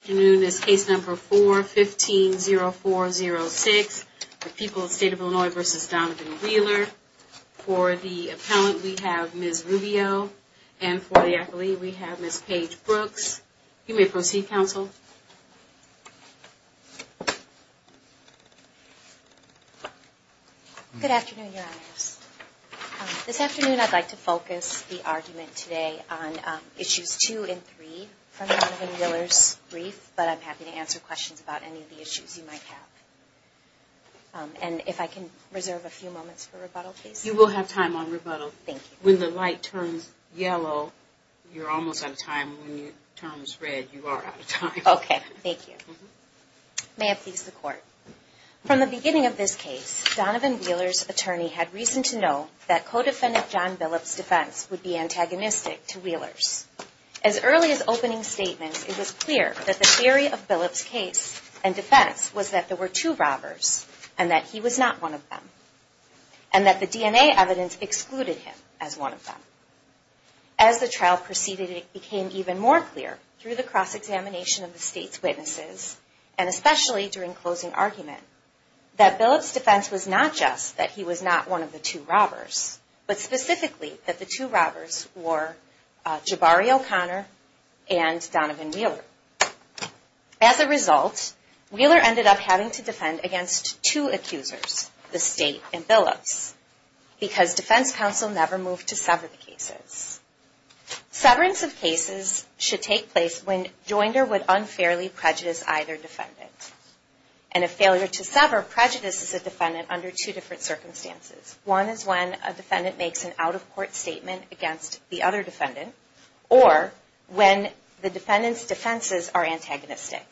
afternoon is case number 4-15-0406, the people of the state of Illinois v. Donovan Wheeler. For the appellant, we have Ms. Rubio, and for the athlete, we have Ms. Paige Brooks. You may proceed, counsel. Good afternoon, Your Honors. This afternoon, I'd like to focus the argument today on issues 2 and 3 from Donovan Wheeler's brief, but I'm happy to answer questions about any of the issues you might have. And if I can reserve a few moments for rebuttal, please. You will have time on rebuttal. When the light turns yellow, you're almost out of time. When it turns red, you are out of time. Okay, thank you. May it please the Court. From the beginning of this case, Donovan Wheeler's attorney had reason to know that co-defendant John Billups' defense would be antagonistic to Wheeler's. As early as opening statements, it was clear that the theory of Billups' case and defense was that there were two robbers, and that he was not one of them. And that the DNA evidence excluded him as one of them. As the trial proceeded, it became even more clear through the cross-examination of the state's witnesses, and especially during closing argument, that Billups' defense was not just that he was not one of the two robbers, but specifically that the two robbers were Jabari O'Connor and Donovan Wheeler. As a result, Wheeler ended up having to defend against two accusers, the state and Billups, because defense counsel never moved to sever the cases. Severance of cases should take place when joinder would unfairly prejudice either defendant. And a failure to sever prejudices a defendant under two different circumstances. One is when a defendant makes an out-of-court statement against the other defendant, or when the defendant's defenses are antagonistic.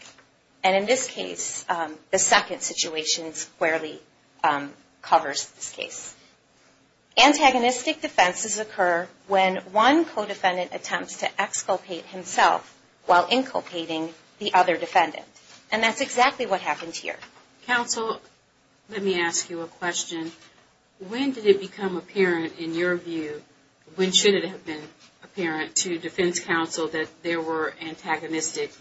And in this case, the second situation squarely covers this case. Antagonistic defenses occur when one co-defendant attempts to exculpate himself while inculpating the other defendant. And that's exactly what happened here. Counsel, let me ask you a question. When did it become apparent, in your view, when should it have been apparent to defense counsel that there were antagonistic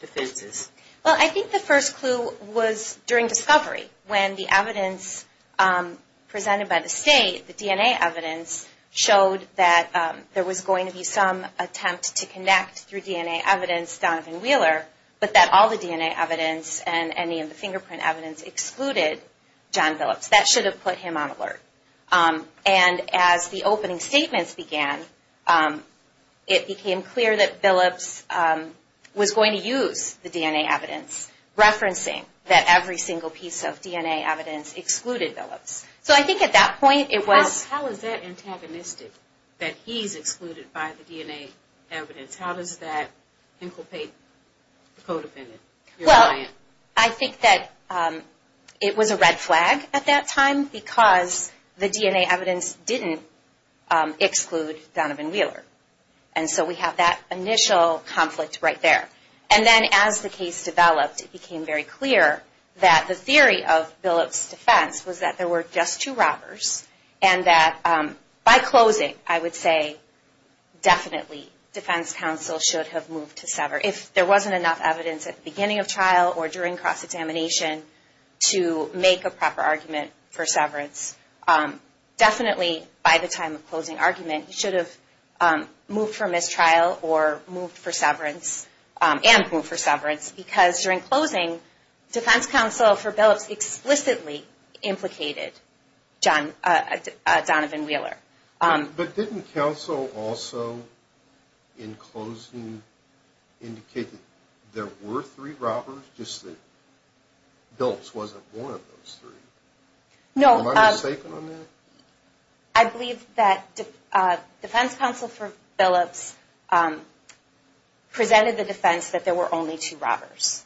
defenses? Well, I think the first clue was during discovery, when the evidence presented by the state, the DNA evidence, showed that there was going to be some attempt to connect through DNA evidence Donovan Wheeler, but that all the DNA evidence and any of the fingerprint evidence excluded John Billups. That should have put him on alert. And as the opening statements began, it became clear that Billups was going to use the DNA evidence, referencing that every single piece of DNA evidence excluded Billups. How is that antagonistic, that he's excluded by the DNA evidence? How does that inculpate the co-defendant? Well, I think that it was a red flag at that time because the DNA evidence didn't exclude Donovan Wheeler. And so we have that initial conflict right there. And then as the case developed, it became very clear that the theory of Billups' defense was that there were just two robbers. And that by closing, I would say definitely defense counsel should have moved to severance. If there wasn't enough evidence at the beginning of trial or during cross-examination to make a proper argument for severance, definitely by the time of closing argument, he should have moved for mistrial or moved for severance and moved for severance. Because during closing, defense counsel for Billups explicitly implicated Donovan Wheeler. But didn't counsel also, in closing, indicate that there were three robbers, just that Billups wasn't one of those three? No. Am I mistaken on that? I believe that defense counsel for Billups presented the defense that there were only two robbers.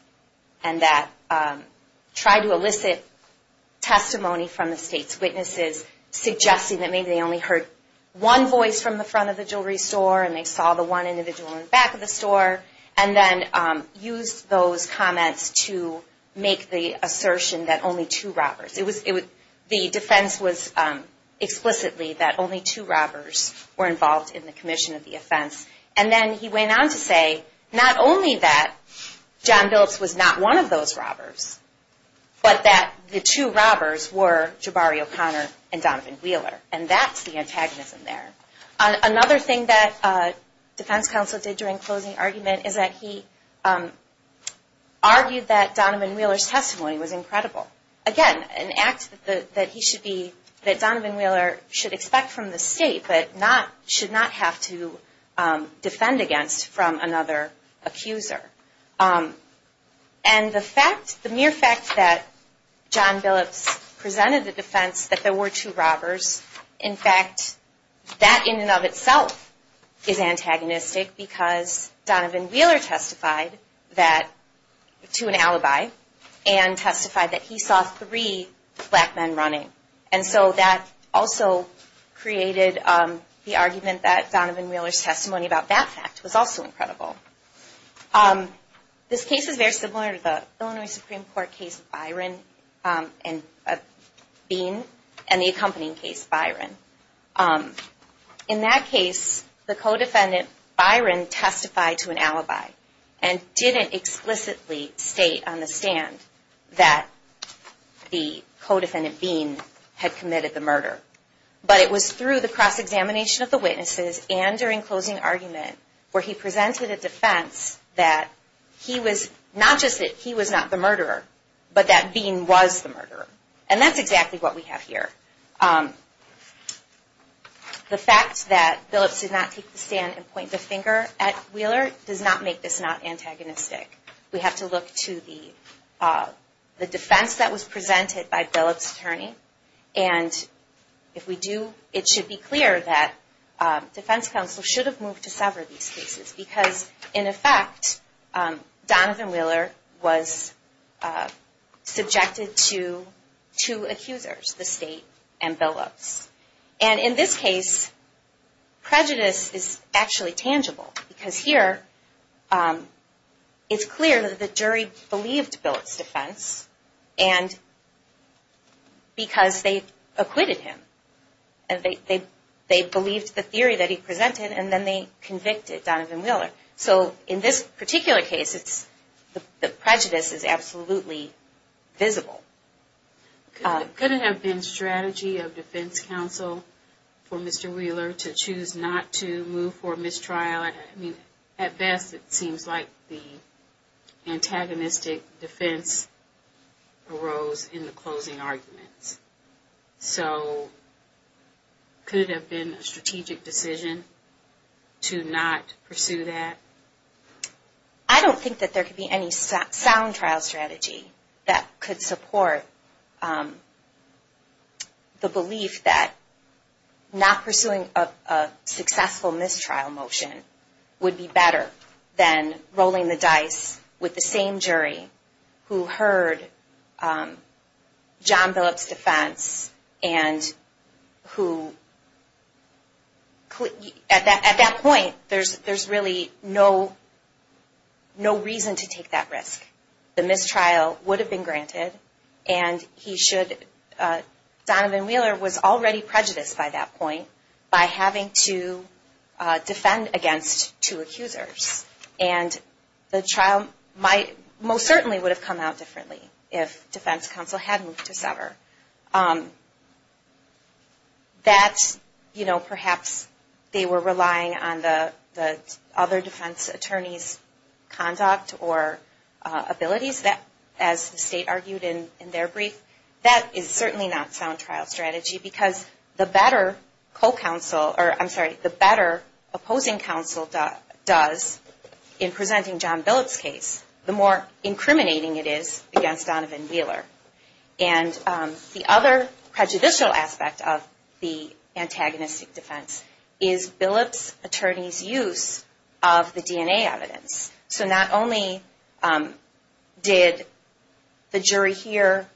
And that tried to elicit testimony from the state's witnesses, suggesting that maybe they only heard one voice from the front of the jewelry store and they saw the one individual in the back of the store. And then used those comments to make the assertion that only two robbers. The defense was explicitly that only two robbers were involved in the commission of the offense. And then he went on to say not only that John Billups was not one of those robbers, but that the two robbers were Jabari O'Connor and Donovan Wheeler. And that's the antagonism there. Another thing that defense counsel did during closing argument is that he argued that Donovan Wheeler's testimony was incredible. Again, an act that Donovan Wheeler should expect from the state, but should not have to defend against from another accuser. And the mere fact that John Billups presented the defense that there were two robbers, in fact, that in and of itself is antagonistic because Donovan Wheeler testified to an alibi and testified that he saw three black men running. And so that also created the argument that Donovan Wheeler's testimony about that fact was also incredible. This case is very similar to the Illinois Supreme Court case of Byron and Bean and the accompanying case of Byron. In that case, the co-defendant, Byron, testified to an alibi and didn't explicitly state on the stand that the co-defendant, Bean, had committed the murder. But it was through the cross-examination of the witnesses and during closing argument where he presented a defense that he was not the murderer, but that Bean was the murderer. And that's exactly what we have here. The fact that Billups did not take the stand and point the finger at Wheeler does not make this not antagonistic. We have to look to the defense that was presented by Billups' attorney. And if we do, it should be clear that defense counsel should have moved to sever these cases because, in effect, Donovan Wheeler was subjected to two accusers, the state and Billups. And in this case, prejudice is actually tangible because here it's clear that the jury believed Billups' defense because they acquitted him. They believed the theory that he presented and then they convicted Donovan Wheeler. So in this particular case, the prejudice is absolutely visible. Could it have been strategy of defense counsel for Mr. Wheeler to choose not to move for mistrial? I mean, at best, it seems like the antagonistic defense arose in the closing arguments. So could it have been a strategic decision to not pursue that? I don't think that there could be any sound trial strategy that could support the belief that not pursuing a successful mistrial motion would be better than rolling the dice with the same jury who heard John Billups' defense and who, at that point, there's really no reason to take that risk. The mistrial would have been granted and Donovan Wheeler was already prejudiced by that point by having to defend against two accusers. And the trial most certainly would have come out differently if defense counsel had moved to sever. That, you know, perhaps they were relying on the other defense attorney's conduct or abilities, as the state argued in their brief. That is certainly not sound trial strategy because the better opposing counsel does in presenting John Billups' case, the more incriminating it is against Donovan Wheeler. And the other prejudicial aspect of the antagonistic defense is Billups' attorney's use of the DNA evidence. So not only did the jury hear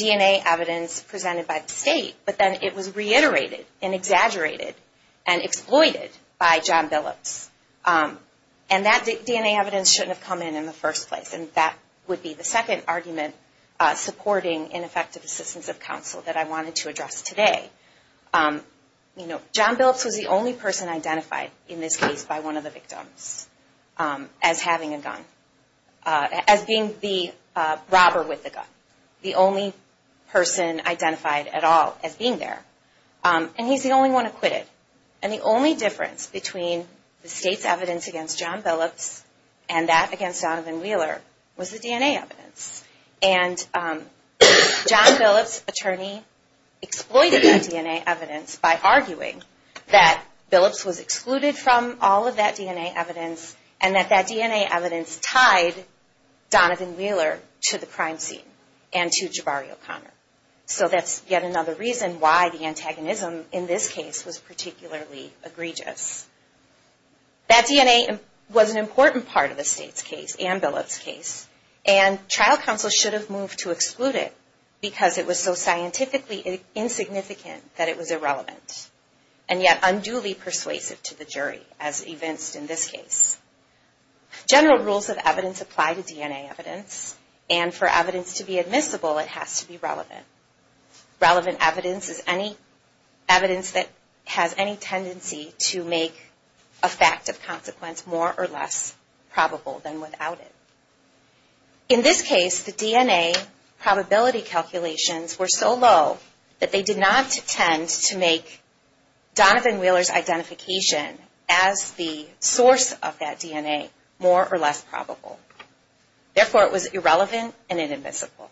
DNA evidence presented by the state, but then it was reiterated and exaggerated and exploited by John Billups. And that DNA evidence shouldn't have come in in the first place. And that would be the second argument supporting ineffective assistance of counsel that I wanted to address today. You know, John Billups was the only person identified in this case by one of the victims as having a gun, as being the robber with the gun. The only person identified at all as being there. And he's the only one acquitted. And the only difference between the state's evidence against John Billups and that against Donovan Wheeler was the DNA evidence. And John Billups' attorney exploited that DNA evidence by arguing that Billups was excluded from all of that DNA evidence and that that DNA evidence tied Donovan Wheeler to the crime scene and to Jabari O'Connor. So that's yet another reason why the antagonism in this case was particularly egregious. That DNA was an important part of the state's case and Billups' case. And trial counsel should have moved to exclude it because it was so scientifically insignificant that it was irrelevant. And yet unduly persuasive to the jury, as evinced in this case. General rules of evidence apply to DNA evidence. And for evidence to be admissible, it has to be relevant. Relevant evidence is any evidence that has any tendency to make a fact of consequence more or less probable than without it. In this case, the DNA probability calculations were so low that they did not tend to make Donovan Wheeler's identification as the source of that DNA more or less probable. Therefore, it was irrelevant and inadmissible.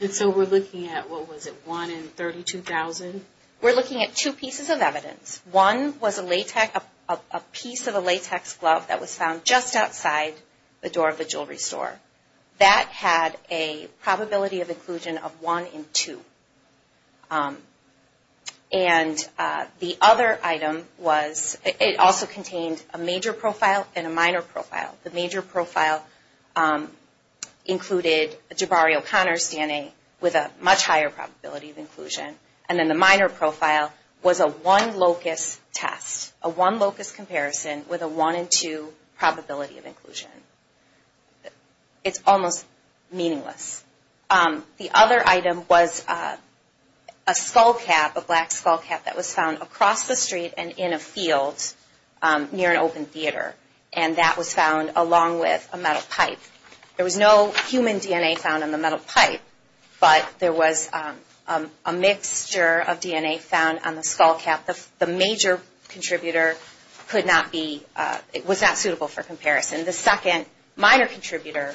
And so we're looking at, what was it, 1 in 32,000? We're looking at two pieces of evidence. One was a piece of a latex glove that was found just outside the door of the jewelry store. That had a probability of inclusion of 1 in 2. And the other item was, it also contained a major profile and a minor profile. The major profile included Jabari O'Connor's DNA with a much higher probability of inclusion. And then the minor profile was a one locus test. A one locus comparison with a 1 in 2 probability of inclusion. It's almost meaningless. The other item was a skullcap, a black skullcap, that was found across the street and in a field near an open theater. And that was found along with a metal pipe. There was no human DNA found on the metal pipe, but there was a mixture of DNA found on the skullcap. The major contributor could not be, was not suitable for comparison. The second minor contributor,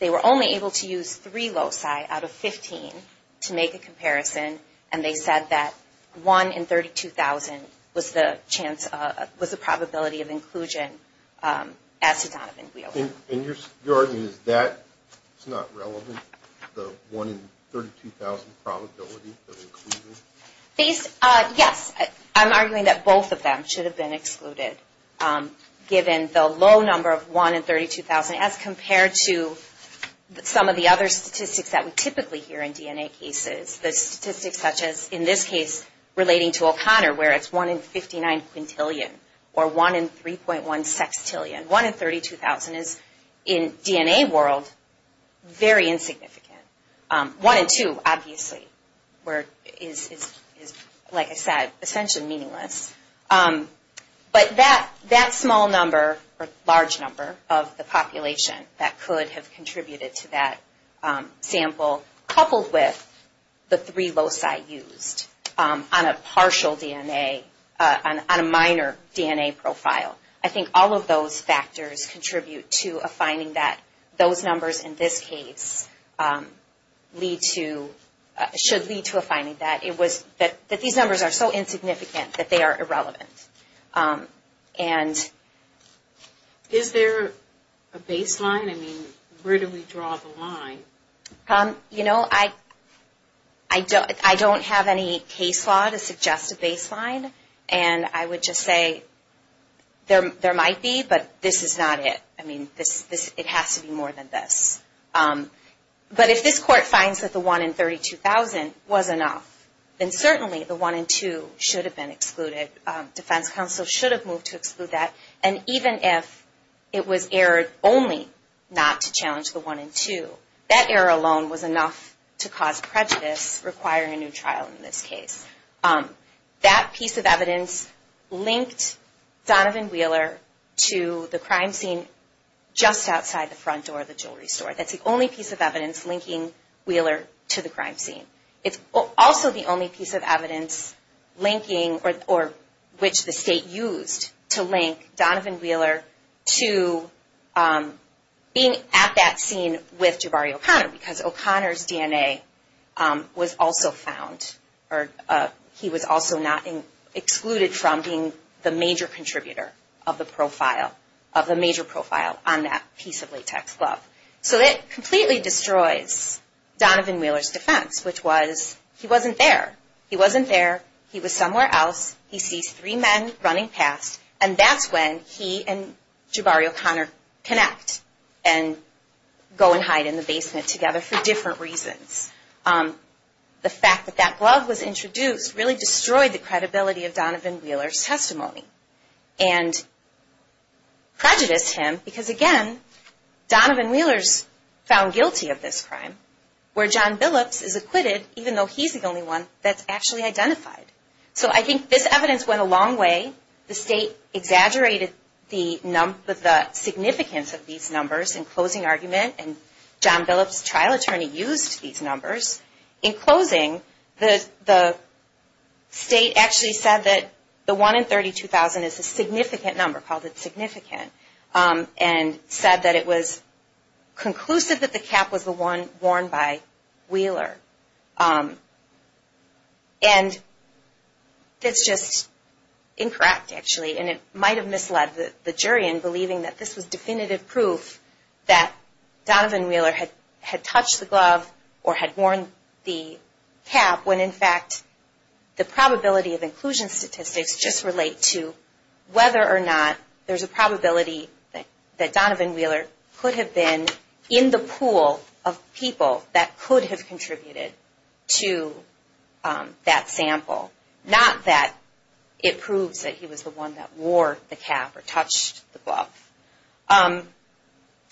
they were only able to use three loci out of 15 to make a comparison. And they said that 1 in 32,000 was the chance, was the probability of inclusion as to Donovan Wheeler. And you're arguing that it's not relevant, the 1 in 32,000 probability of inclusion? These, yes, I'm arguing that both of them should have been excluded. Given the low number of 1 in 32,000 as compared to some of the other statistics that we typically hear in DNA cases. The statistics such as, in this case, relating to O'Connor, where it's 1 in 59 quintillion, or 1 in 3.1 sextillion. 1 in 32,000 is, in DNA world, very insignificant. 1 in 2, obviously, is, like I said, essentially meaningless. But that small number, or large number, of the population that could have contributed to that sample, coupled with the three loci used on a partial DNA, on a minor DNA profile. I think all of those factors contribute to a finding that those numbers, in this case, lead to, should lead to a finding that these numbers are so insignificant that they are irrelevant. Is there a baseline? I mean, where do we draw the line? You know, I don't have any case law to suggest a baseline. And I would just say, there might be, but this is not it. I mean, it has to be more than this. But if this court finds that the 1 in 32,000 was enough, then certainly the 1 in 2 should have been excluded. Defense counsel should have moved to exclude that. And even if it was errored only not to challenge the 1 in 2, that error alone was enough to cause prejudice, requiring a new trial in this case. That piece of evidence linked Donovan Wheeler to the crime scene just outside the front door of the jewelry store. That's the only piece of evidence linking Wheeler to the crime scene. It's also the only piece of evidence linking, or which the state used to link Donovan Wheeler to being at that scene with Jabari O'Connor, because O'Connor's DNA was also found, or he was also not excluded from being the major contributor of the profile, of the major profile on that piece of latex glove. So it completely destroys Donovan Wheeler's defense, which was, he wasn't there. He wasn't there, he was somewhere else, he sees three men running past, and that's when he and Jabari O'Connor connect and go and hide in the basement together for different reasons. The fact that that glove was introduced really destroyed the credibility of Donovan Wheeler's testimony, and prejudiced him, because again, Donovan Wheeler's found guilty of this crime, where John Billups is acquitted, even though he's the only one that's actually identified. So I think this evidence went a long way. The state exaggerated the significance of these numbers in closing argument, and John Billups' trial attorney used these numbers. In closing, the state actually said that the one in 32,000 is a significant number, called it significant, and said that it was conclusive that the cap was the one worn by Wheeler. And it's just incorrect, actually, and it might have misled the jury in believing that this was definitive proof that Donovan Wheeler had touched the glove or had worn the cap, when in fact the probability of inclusion statistics just relate to whether or not there's a probability that Donovan Wheeler could have been in the pool of people that could have contributed to that sample, not that it proves that he was the one that wore the cap or touched the glove.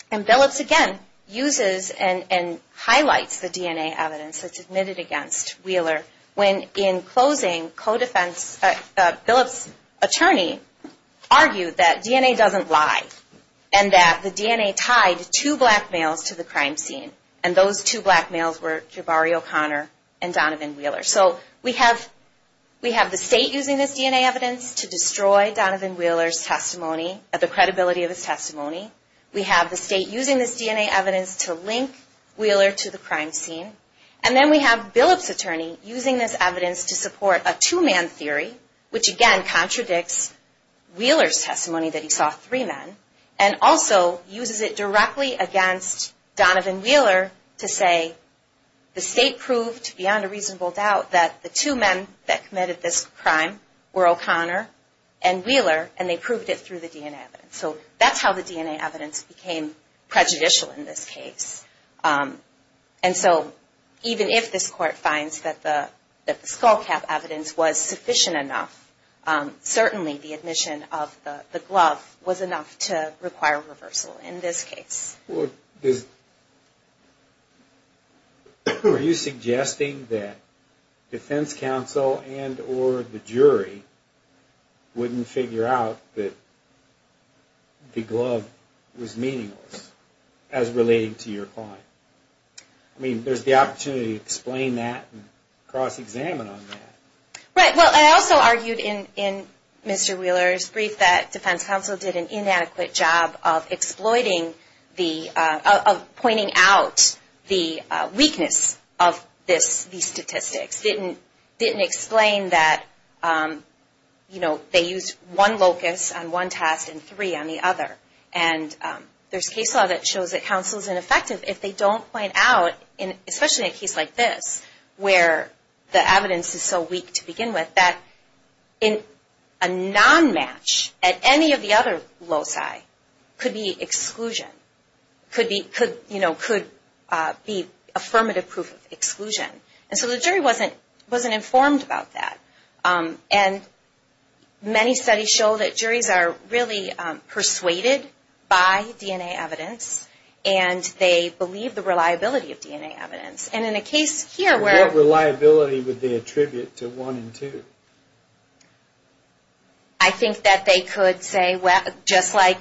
And Billups again uses and highlights the DNA evidence that's admitted against Wheeler, when in closing, Billups' attorney argued that DNA doesn't lie and that the DNA tied two black males to the crime scene. And those two black males were Jabari O'Connor and Donovan Wheeler. So we have the state using this DNA evidence to destroy Donovan Wheeler's testimony, the credibility of his testimony. We have the state using this DNA evidence to link Wheeler to the crime scene. And then we have Billups' attorney using this evidence to support a two-man theory, which again contradicts Wheeler's testimony that he saw three men, and also uses it directly against Donovan Wheeler to say the state proved beyond a reasonable doubt that the two men that committed this crime were O'Connor and Wheeler, and they proved it through the DNA evidence. So that's how the DNA evidence became prejudicial in this case. And so even if this Court finds that the skull cap evidence was sufficient enough, certainly the admission of the glove was enough to require reversal in this case. Well, are you suggesting that defense counsel and or the jury wouldn't figure out that the glove was meaningless as relating to your client? I mean, there's the opportunity to explain that and cross-examine on that. Right. Well, I also argued in Mr. Wheeler's brief that defense counsel did an inadequate job of exploiting the, of pointing out the weakness of these statistics, didn't explain that, you know, they used one locus on one test and three on the other. And there's case law that shows that counsel's ineffective if they don't point out, especially in a case like this where the evidence is so weak to begin with, that a non-match at any of the other loci could be exclusion, could be, you know, could be affirmative proof of exclusion. And so the jury wasn't informed about that. And many studies show that juries are really persuaded by DNA evidence, and they believe the reliability of DNA evidence. And in a case here where... What reliability would they attribute to 1 and 2? I think that they could say, well, just like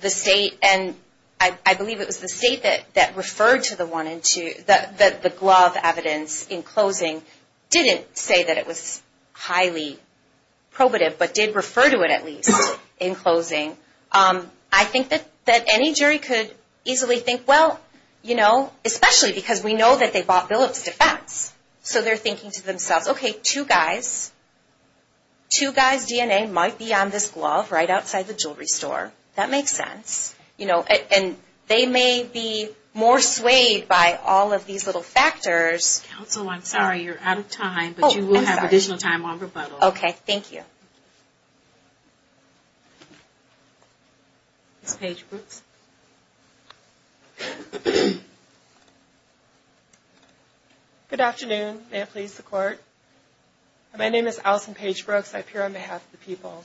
the state, and I believe it was the state that referred to the 1 and 2, that the glove evidence in closing didn't say that it was highly probative, but did refer to it at least in closing. I think that any jury could easily think, well, you know, especially because we know that they bought Billup's defense, so they're thinking to themselves, okay, two guys, two guys' DNA might be on this glove right outside the jewelry store. That makes sense. And they may be more swayed by all of these little factors. Counsel, I'm sorry. You're out of time, but you will have additional time on rebuttal. Okay, thank you. Ms. Paige Brooks. Good afternoon. May it please the Court. My name is Allison Paige Brooks. I appear on behalf of the people.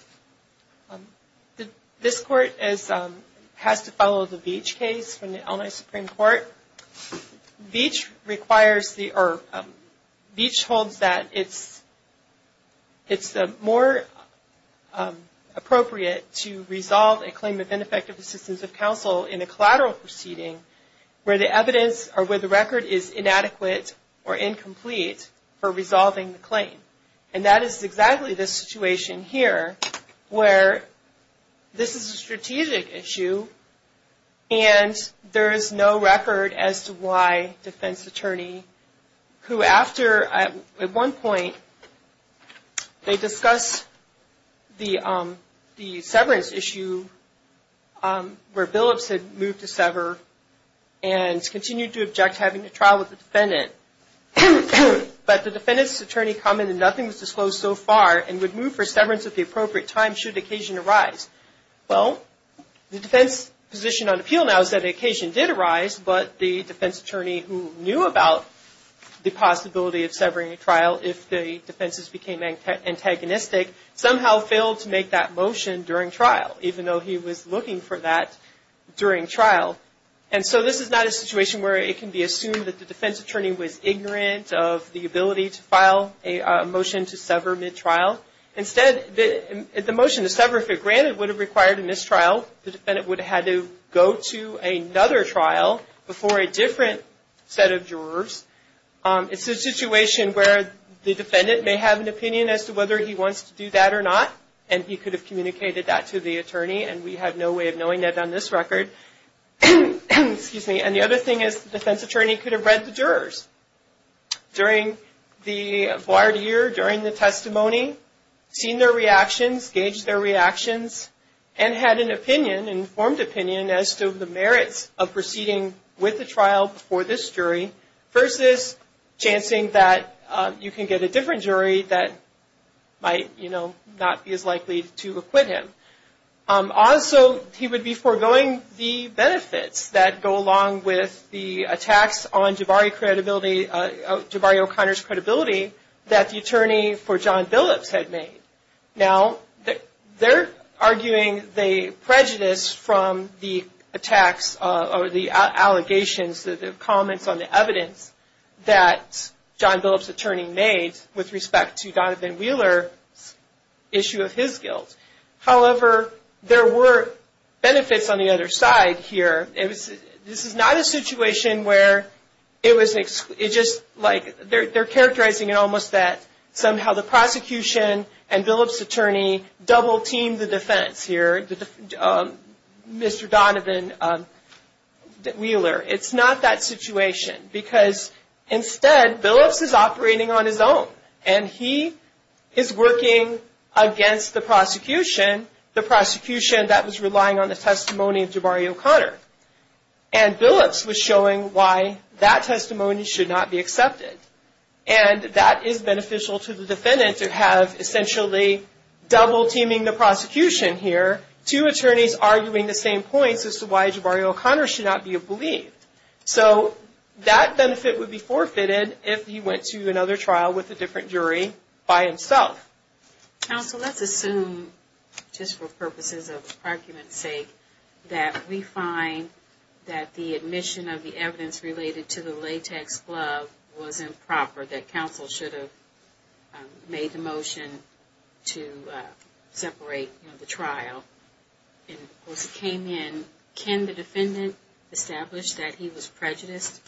This Court has to follow the Beach case from the Illinois Supreme Court. Beach holds that it's more appropriate to resolve a claim of ineffective assistance of counsel in a collateral proceeding where the evidence or where the record is inadequate or incomplete for resolving the claim. And that is exactly the situation here where this is a strategic issue and there is no record as to why defense attorney who after, at one point, they discussed the severance issue where Billups had moved to sever and continued to object to having a trial with the defendant. But the defendant's attorney commented nothing was disclosed so far and would move for severance at the appropriate time should occasion arise. Well, the defense position on appeal now is that occasion did arise, but the defense attorney who knew about the possibility of severing a trial if the defenses became antagonistic somehow failed to make that motion during trial, even though he was looking for that during trial. And so this is not a situation where it can be assumed that the defense attorney was ignorant of the ability to file a motion to sever mid-trial. Instead, the motion to sever if it granted would have required a mistrial. The defendant would have had to go to another trial before a different set of jurors. It's a situation where the defendant may have an opinion as to whether he wants to do that or not, and he could have communicated that to the attorney, and we have no way of knowing that on this record. And the other thing is the defense attorney could have read the jurors during the acquired year, during the testimony, seen their reactions, gauged their reactions, and had an opinion, an informed opinion as to the merits of proceeding with the trial before this jury versus chancing that you can get a different jury that might not be as likely to acquit him. Also, he would be foregoing the benefits that go along with the attacks on Jabari O'Connor's credibility that the attorney for John Billups had made. Now, they're arguing the prejudice from the attacks or the allegations, the comments on the evidence that John Billups' attorney made with respect to Donovan Wheeler's issue of his guilt. However, there were benefits on the other side here. This is not a situation where it was just like they're characterizing it almost that somehow the prosecution and Billups' attorney double teamed the defense here, Mr. Donovan Wheeler. It's not that situation because instead, Billups is operating on his own, and he is working against the prosecution, the prosecution that was relying on the testimony of Jabari O'Connor. And Billups was showing why that testimony should not be accepted. And that is beneficial to the defendant to have essentially double teaming the prosecution here, two attorneys arguing the same points as to why Jabari O'Connor should not be believed. So that benefit would be forfeited if he went to another trial with a different jury by himself. Counsel, let's assume, just for purposes of argument's sake, that we find that the admission of the evidence related to the latex glove was improper, that counsel should have made the motion to separate the trial. As it came in, can the defendant establish that he was prejudiced?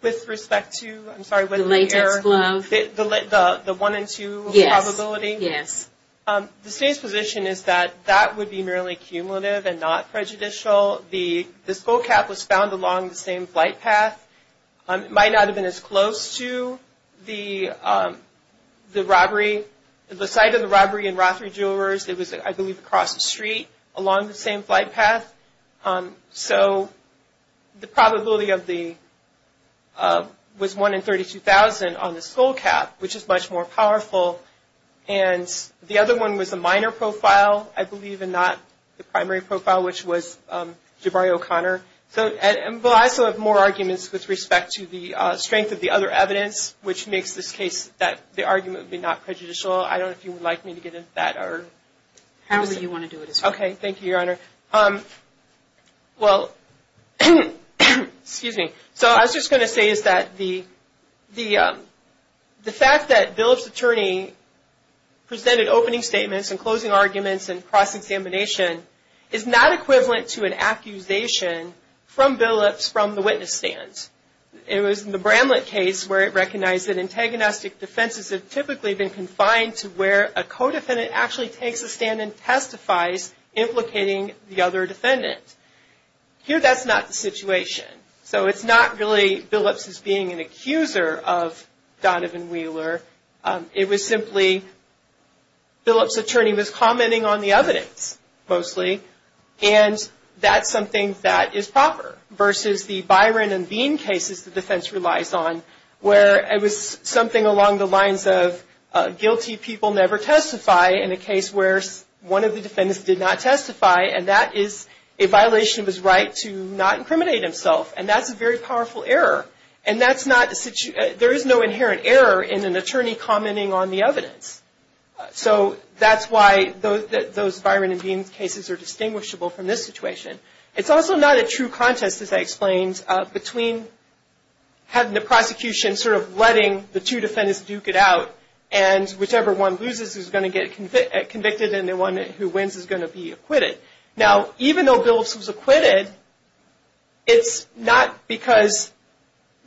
With respect to, I'm sorry, the latex glove? The one and two probability? Yes, yes. The state's position is that that would be merely cumulative and not prejudicial. This bull cap was found along the same flight path. It might not have been as close to the robbery. The site of the robbery in Rothery Jewelers, it was, I believe, across the street along the same flight path. So the probability was one in 32,000 on this bull cap, which is much more powerful. And the other one was a minor profile, I believe, and not the primary profile, which was Jabari O'Connor. So I still have more arguments with respect to the strength of the other evidence, which makes this case that the argument would be not prejudicial. I don't know if you would like me to get into that. However you want to do it is fine. Okay. Thank you, Your Honor. Well, excuse me. So I was just going to say is that the fact that Bill's attorney presented opening statements and closing arguments and cross-examination is not equivalent to an accusation from Billips from the witness stand. It was in the Bramlett case where it recognized that antagonistic defenses have typically been confined to where a co-defendant actually takes a stand and testifies implicating the other defendant. Here that's not the situation. So it's not really Billips as being an accuser of Donovan Wheeler. It was simply Billips' attorney was commenting on the evidence mostly, and that's something that is proper versus the Byron and Bean cases the defense relies on where it was something along the lines of guilty people never testify in a case where one of the defendants did not testify, and that is a violation of his right to not incriminate himself, and that's a very powerful error. And there is no inherent error in an attorney commenting on the evidence. So that's why those Byron and Bean cases are distinguishable from this situation. It's also not a true contest, as I explained, between having the prosecution sort of letting the two defendants duke it out and whichever one loses is going to get convicted and the one who wins is going to be acquitted. Now, even though Billips was acquitted, it's not because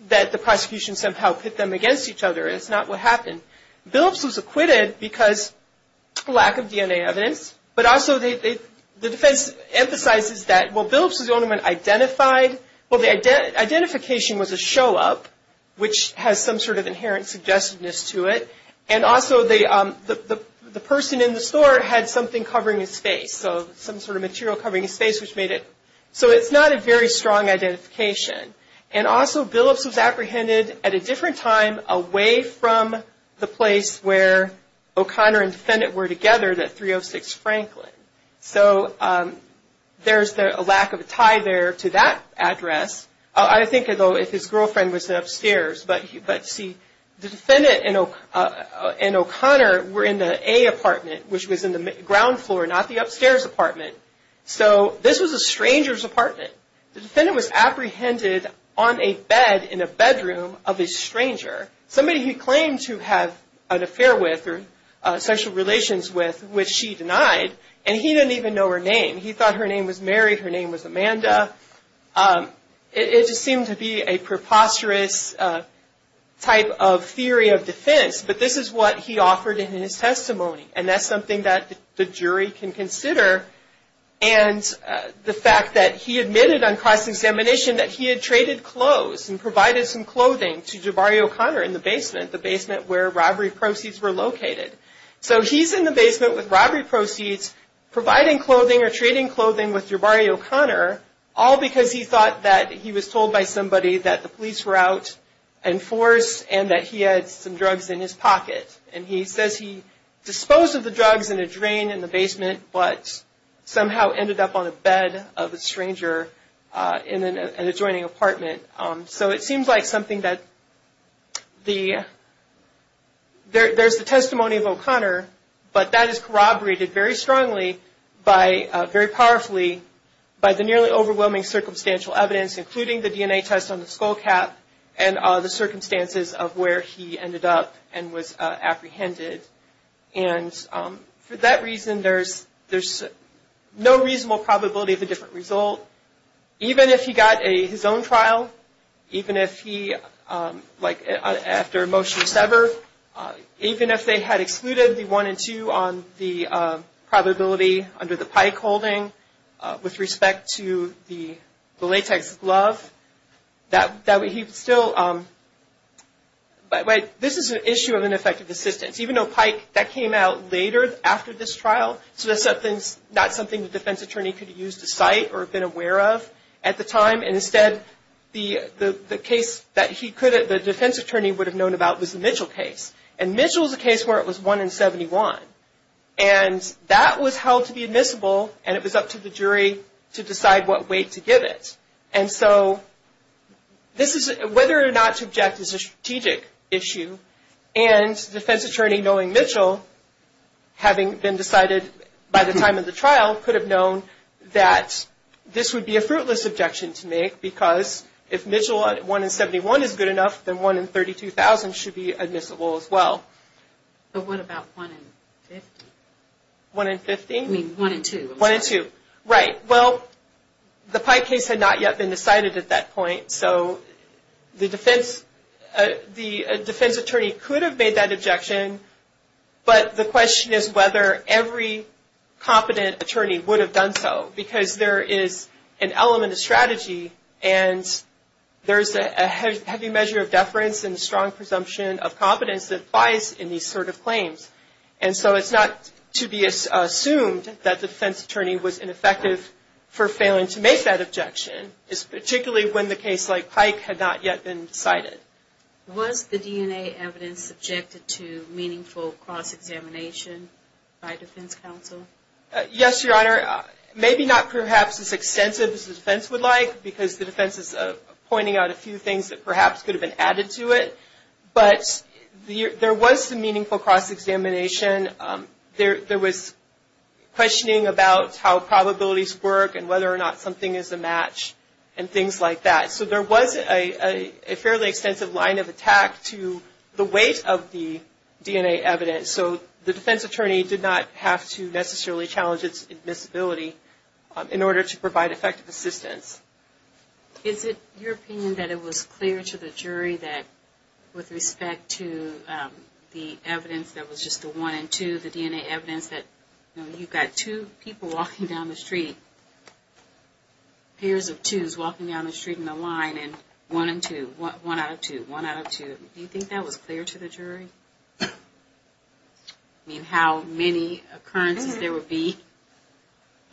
that the prosecution somehow pit them against each other. It's not what happened. Billips was acquitted because lack of DNA evidence, but also the defense emphasizes that, well, Billips was the only one identified. Well, the identification was a show-up, which has some sort of inherent suggestiveness to it, and also the person in the store had something covering his face, so some sort of material covering his face, which made it. So it's not a very strong identification. And also, Billips was apprehended at a different time away from the place where O'Connor and the defendant were together, that 306 Franklin. So there's a lack of a tie there to that address. I think, though, if his girlfriend was upstairs, but see, the defendant and O'Connor were in the A apartment, which was in the ground floor, not the upstairs apartment. So this was a stranger's apartment. The defendant was apprehended on a bed in a bedroom of a stranger, somebody he claimed to have an affair with or social relations with, which she denied, and he didn't even know her name. He thought her name was Mary, her name was Amanda. It just seemed to be a preposterous type of theory of defense, but this is what he offered in his testimony, and that's something that the jury can consider. And the fact that he admitted on cross-examination that he had traded clothes and provided some clothing to Jabari O'Connor in the basement, the basement where robbery proceeds were located. So he's in the basement with robbery proceeds, providing clothing or trading clothing with Jabari O'Connor, all because he thought that he was told by somebody that the police were out and forced and that he had some drugs in his pocket. And he says he disposed of the drugs in a drain in the basement, but somehow ended up on a bed of a stranger in an adjoining apartment. So it seems like something that the – there's the testimony of O'Connor, but that is corroborated very strongly by – very powerfully by the nearly overwhelming circumstantial evidence, including the DNA test on the skull cap and the circumstances of where he ended up and was apprehended. And for that reason, there's no reasonable probability of a different result. So even if he got his own trial, even if he – like after a motion to sever, even if they had excluded the 1 and 2 on the probability under the Pike holding with respect to the latex glove, that would – he would still – but this is an issue of ineffective assistance. Even though Pike – that came out later after this trial, so that's not something the defense attorney could have used to cite or been aware of at the time. And instead, the case that he could have – the defense attorney would have known about was the Mitchell case. And Mitchell is a case where it was 1 in 71. And that was held to be admissible, and it was up to the jury to decide what weight to give it. And so this is – whether or not to object is a strategic issue. And the defense attorney, knowing Mitchell, having been decided by the time of the trial, could have known that this would be a fruitless objection to make because if Mitchell, 1 in 71, is good enough, then 1 in 32,000 should be admissible as well. But what about 1 in 50? 1 in 50? I mean 1 in 2. 1 in 2. Right. Well, the Pike case had not yet been decided at that point. So the defense attorney could have made that objection, but the question is whether every competent attorney would have done so because there is an element of strategy and there's a heavy measure of deference and strong presumption of competence that applies in these sort of claims. And so it's not to be assumed that the defense attorney was ineffective for failing to make that objection. It's particularly when the case like Pike had not yet been decided. Was the DNA evidence subjected to meaningful cross-examination by defense counsel? Yes, Your Honor. Maybe not perhaps as extensive as the defense would like because the defense is pointing out a few things that perhaps could have been added to it. But there was some meaningful cross-examination. There was questioning about how probabilities work and whether or not something is a match and things like that. So there was a fairly extensive line of attack to the weight of the DNA evidence. So the defense attorney did not have to necessarily challenge its admissibility in order to provide effective assistance. Is it your opinion that it was clear to the jury that with respect to the evidence that was just the one and two, the DNA evidence that you've got two people walking down the street, pairs of twos walking down the street in a line and one and two, one out of two, one out of two, do you think that was clear to the jury? I mean how many occurrences there would be?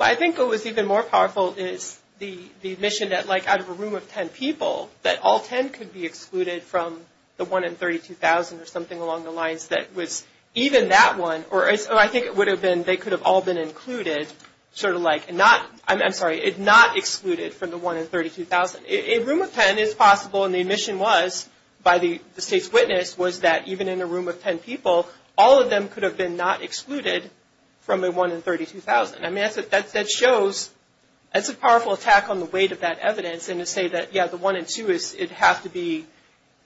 I think what was even more powerful is the admission that like out of a room of ten people, that all ten could be excluded from the one in 32,000 or something along the lines that was even that one, or I think it would have been they could have all been included sort of like not, I'm sorry, not excluded from the one in 32,000. A room of ten is possible and the admission was by the state's witness was that even in a room of ten people, all of them could have been not excluded from the one in 32,000. I mean that shows that's a powerful attack on the weight of that evidence and to say that yeah, the one and two, it'd have to be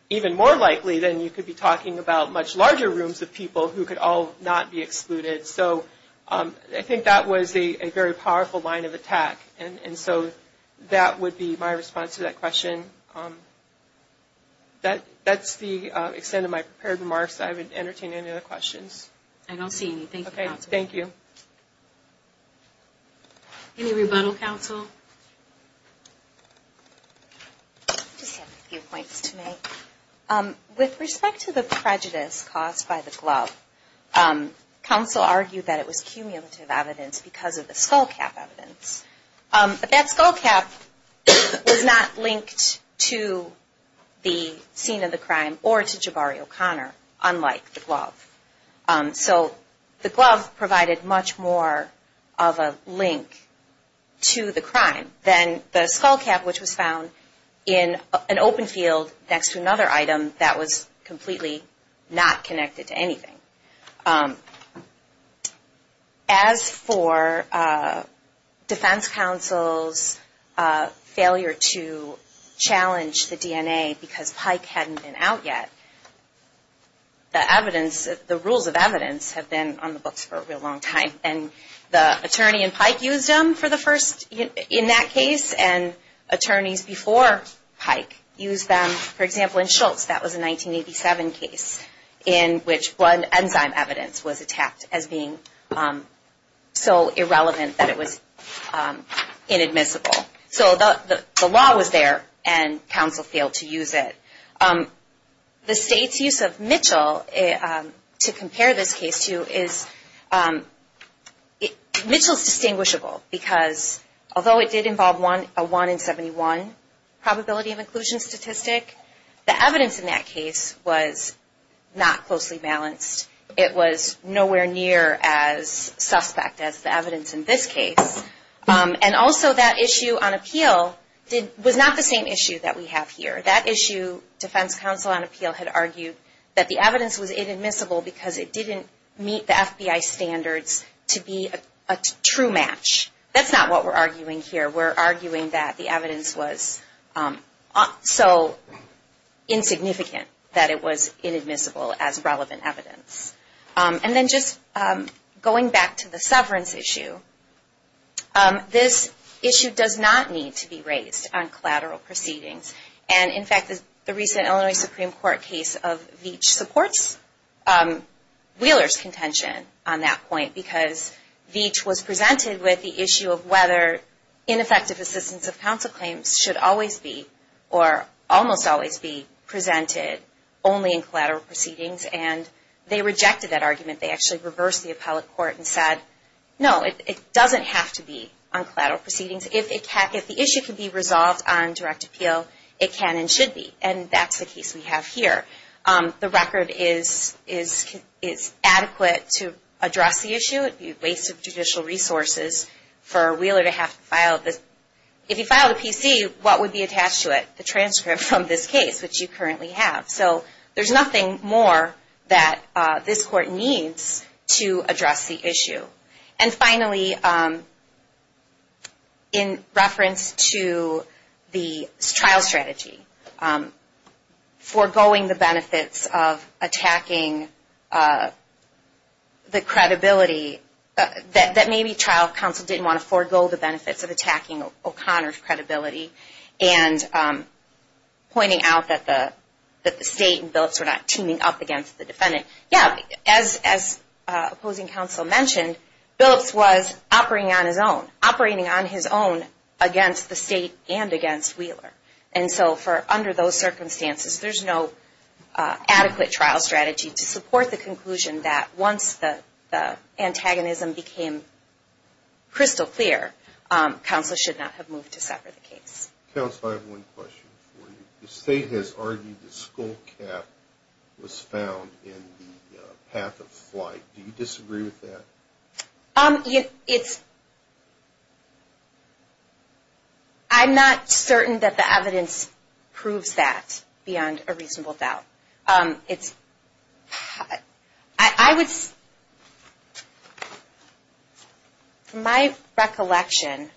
even more likely than you could be talking about much larger rooms of people who could all not be excluded. So I think that was a very powerful line of attack and so that would be my response to that question. That's the extent of my prepared remarks. I would entertain any other questions. I don't see anything. Okay, thank you. Any rebuttal, counsel? I just have a few points to make. With respect to the prejudice caused by the glove, counsel argued that it was cumulative evidence because of the skullcap evidence. But that skullcap was not linked to the scene of the crime or to Jabari O'Connor, unlike the glove. So the glove provided much more of a link to the crime than the skullcap, which was found in an open field next to another item that was completely not connected to anything. As for defense counsel's failure to challenge the DNA because Pike hadn't been out yet, the evidence, the rules of evidence have been on the books for a real long time. And the attorney in Pike used them for the first, in that case, and attorneys before Pike used them. For example, in Schultz, that was a 1987 case in which blood enzyme evidence was attacked as being so irrelevant that it was inadmissible. So the law was there and counsel failed to use it. The state's use of Mitchell to compare this case to is, Mitchell is distinguishable because although it did involve a 1 in 71 probability of inclusion statistic, the evidence in that case was not closely balanced. It was nowhere near as suspect as the evidence in this case. And also that issue on appeal was not the same issue that we have here. That issue, defense counsel on appeal had argued that the evidence was inadmissible because it didn't meet the FBI standards to be a true match. That's not what we're arguing here. We're arguing that the evidence was so insignificant that it was inadmissible as relevant evidence. And then just going back to the severance issue, this issue does not need to be raised on collateral proceedings. And in fact, the recent Illinois Supreme Court case of Veach supports Wheeler's contention on that point because Veach was presented with the issue of whether ineffective assistance of counsel claims should always be or almost always be presented only in collateral proceedings. And they rejected that argument. They actually reversed the appellate court and said, no, it doesn't have to be on collateral proceedings. And if the issue can be resolved on direct appeal, it can and should be. And that's the case we have here. The record is adequate to address the issue. It would be a waste of judicial resources for Wheeler to have to file this. If he filed a PC, what would be attached to it? The transcript from this case, which you currently have. And finally, in reference to the trial strategy, foregoing the benefits of attacking the credibility, that maybe trial counsel didn't want to forego the benefits of attacking O'Connor's credibility and pointing out that the state and billets were not teaming up against the defendant. Yeah, as opposing counsel mentioned, Billups was operating on his own, operating on his own against the state and against Wheeler. And so under those circumstances, there's no adequate trial strategy to support the conclusion that once the antagonism became crystal clear, counsel should not have moved to sever the case. Counsel, I have one question for you. The state has argued that skullcap was found in the path of flight. Do you disagree with that? I'm not certain that the evidence proves that beyond a reasonable doubt. My recollection,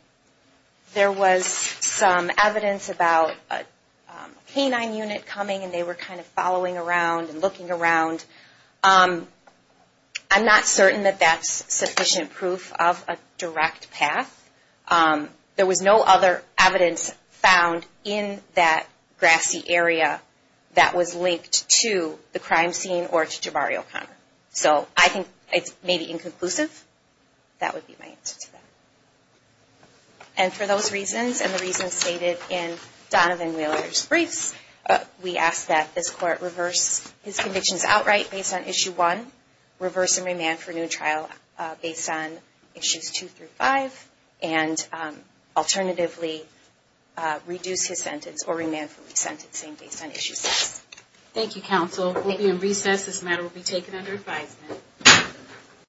there was some evidence about a canine unit coming and they were kind of following around and looking around. I'm not certain that that's sufficient proof of a direct path. There was no other evidence found in that grassy area that was linked to the crime scene or to Jabari O'Connor. So I think it's maybe inconclusive. That would be my answer to that. And for those reasons and the reasons stated in Donovan Wheeler's briefs, we ask that this court reverse his and alternatively reduce his sentence or remand for resentencing based on issue six. Thank you, counsel. We'll be in recess. This matter will be taken under advisement.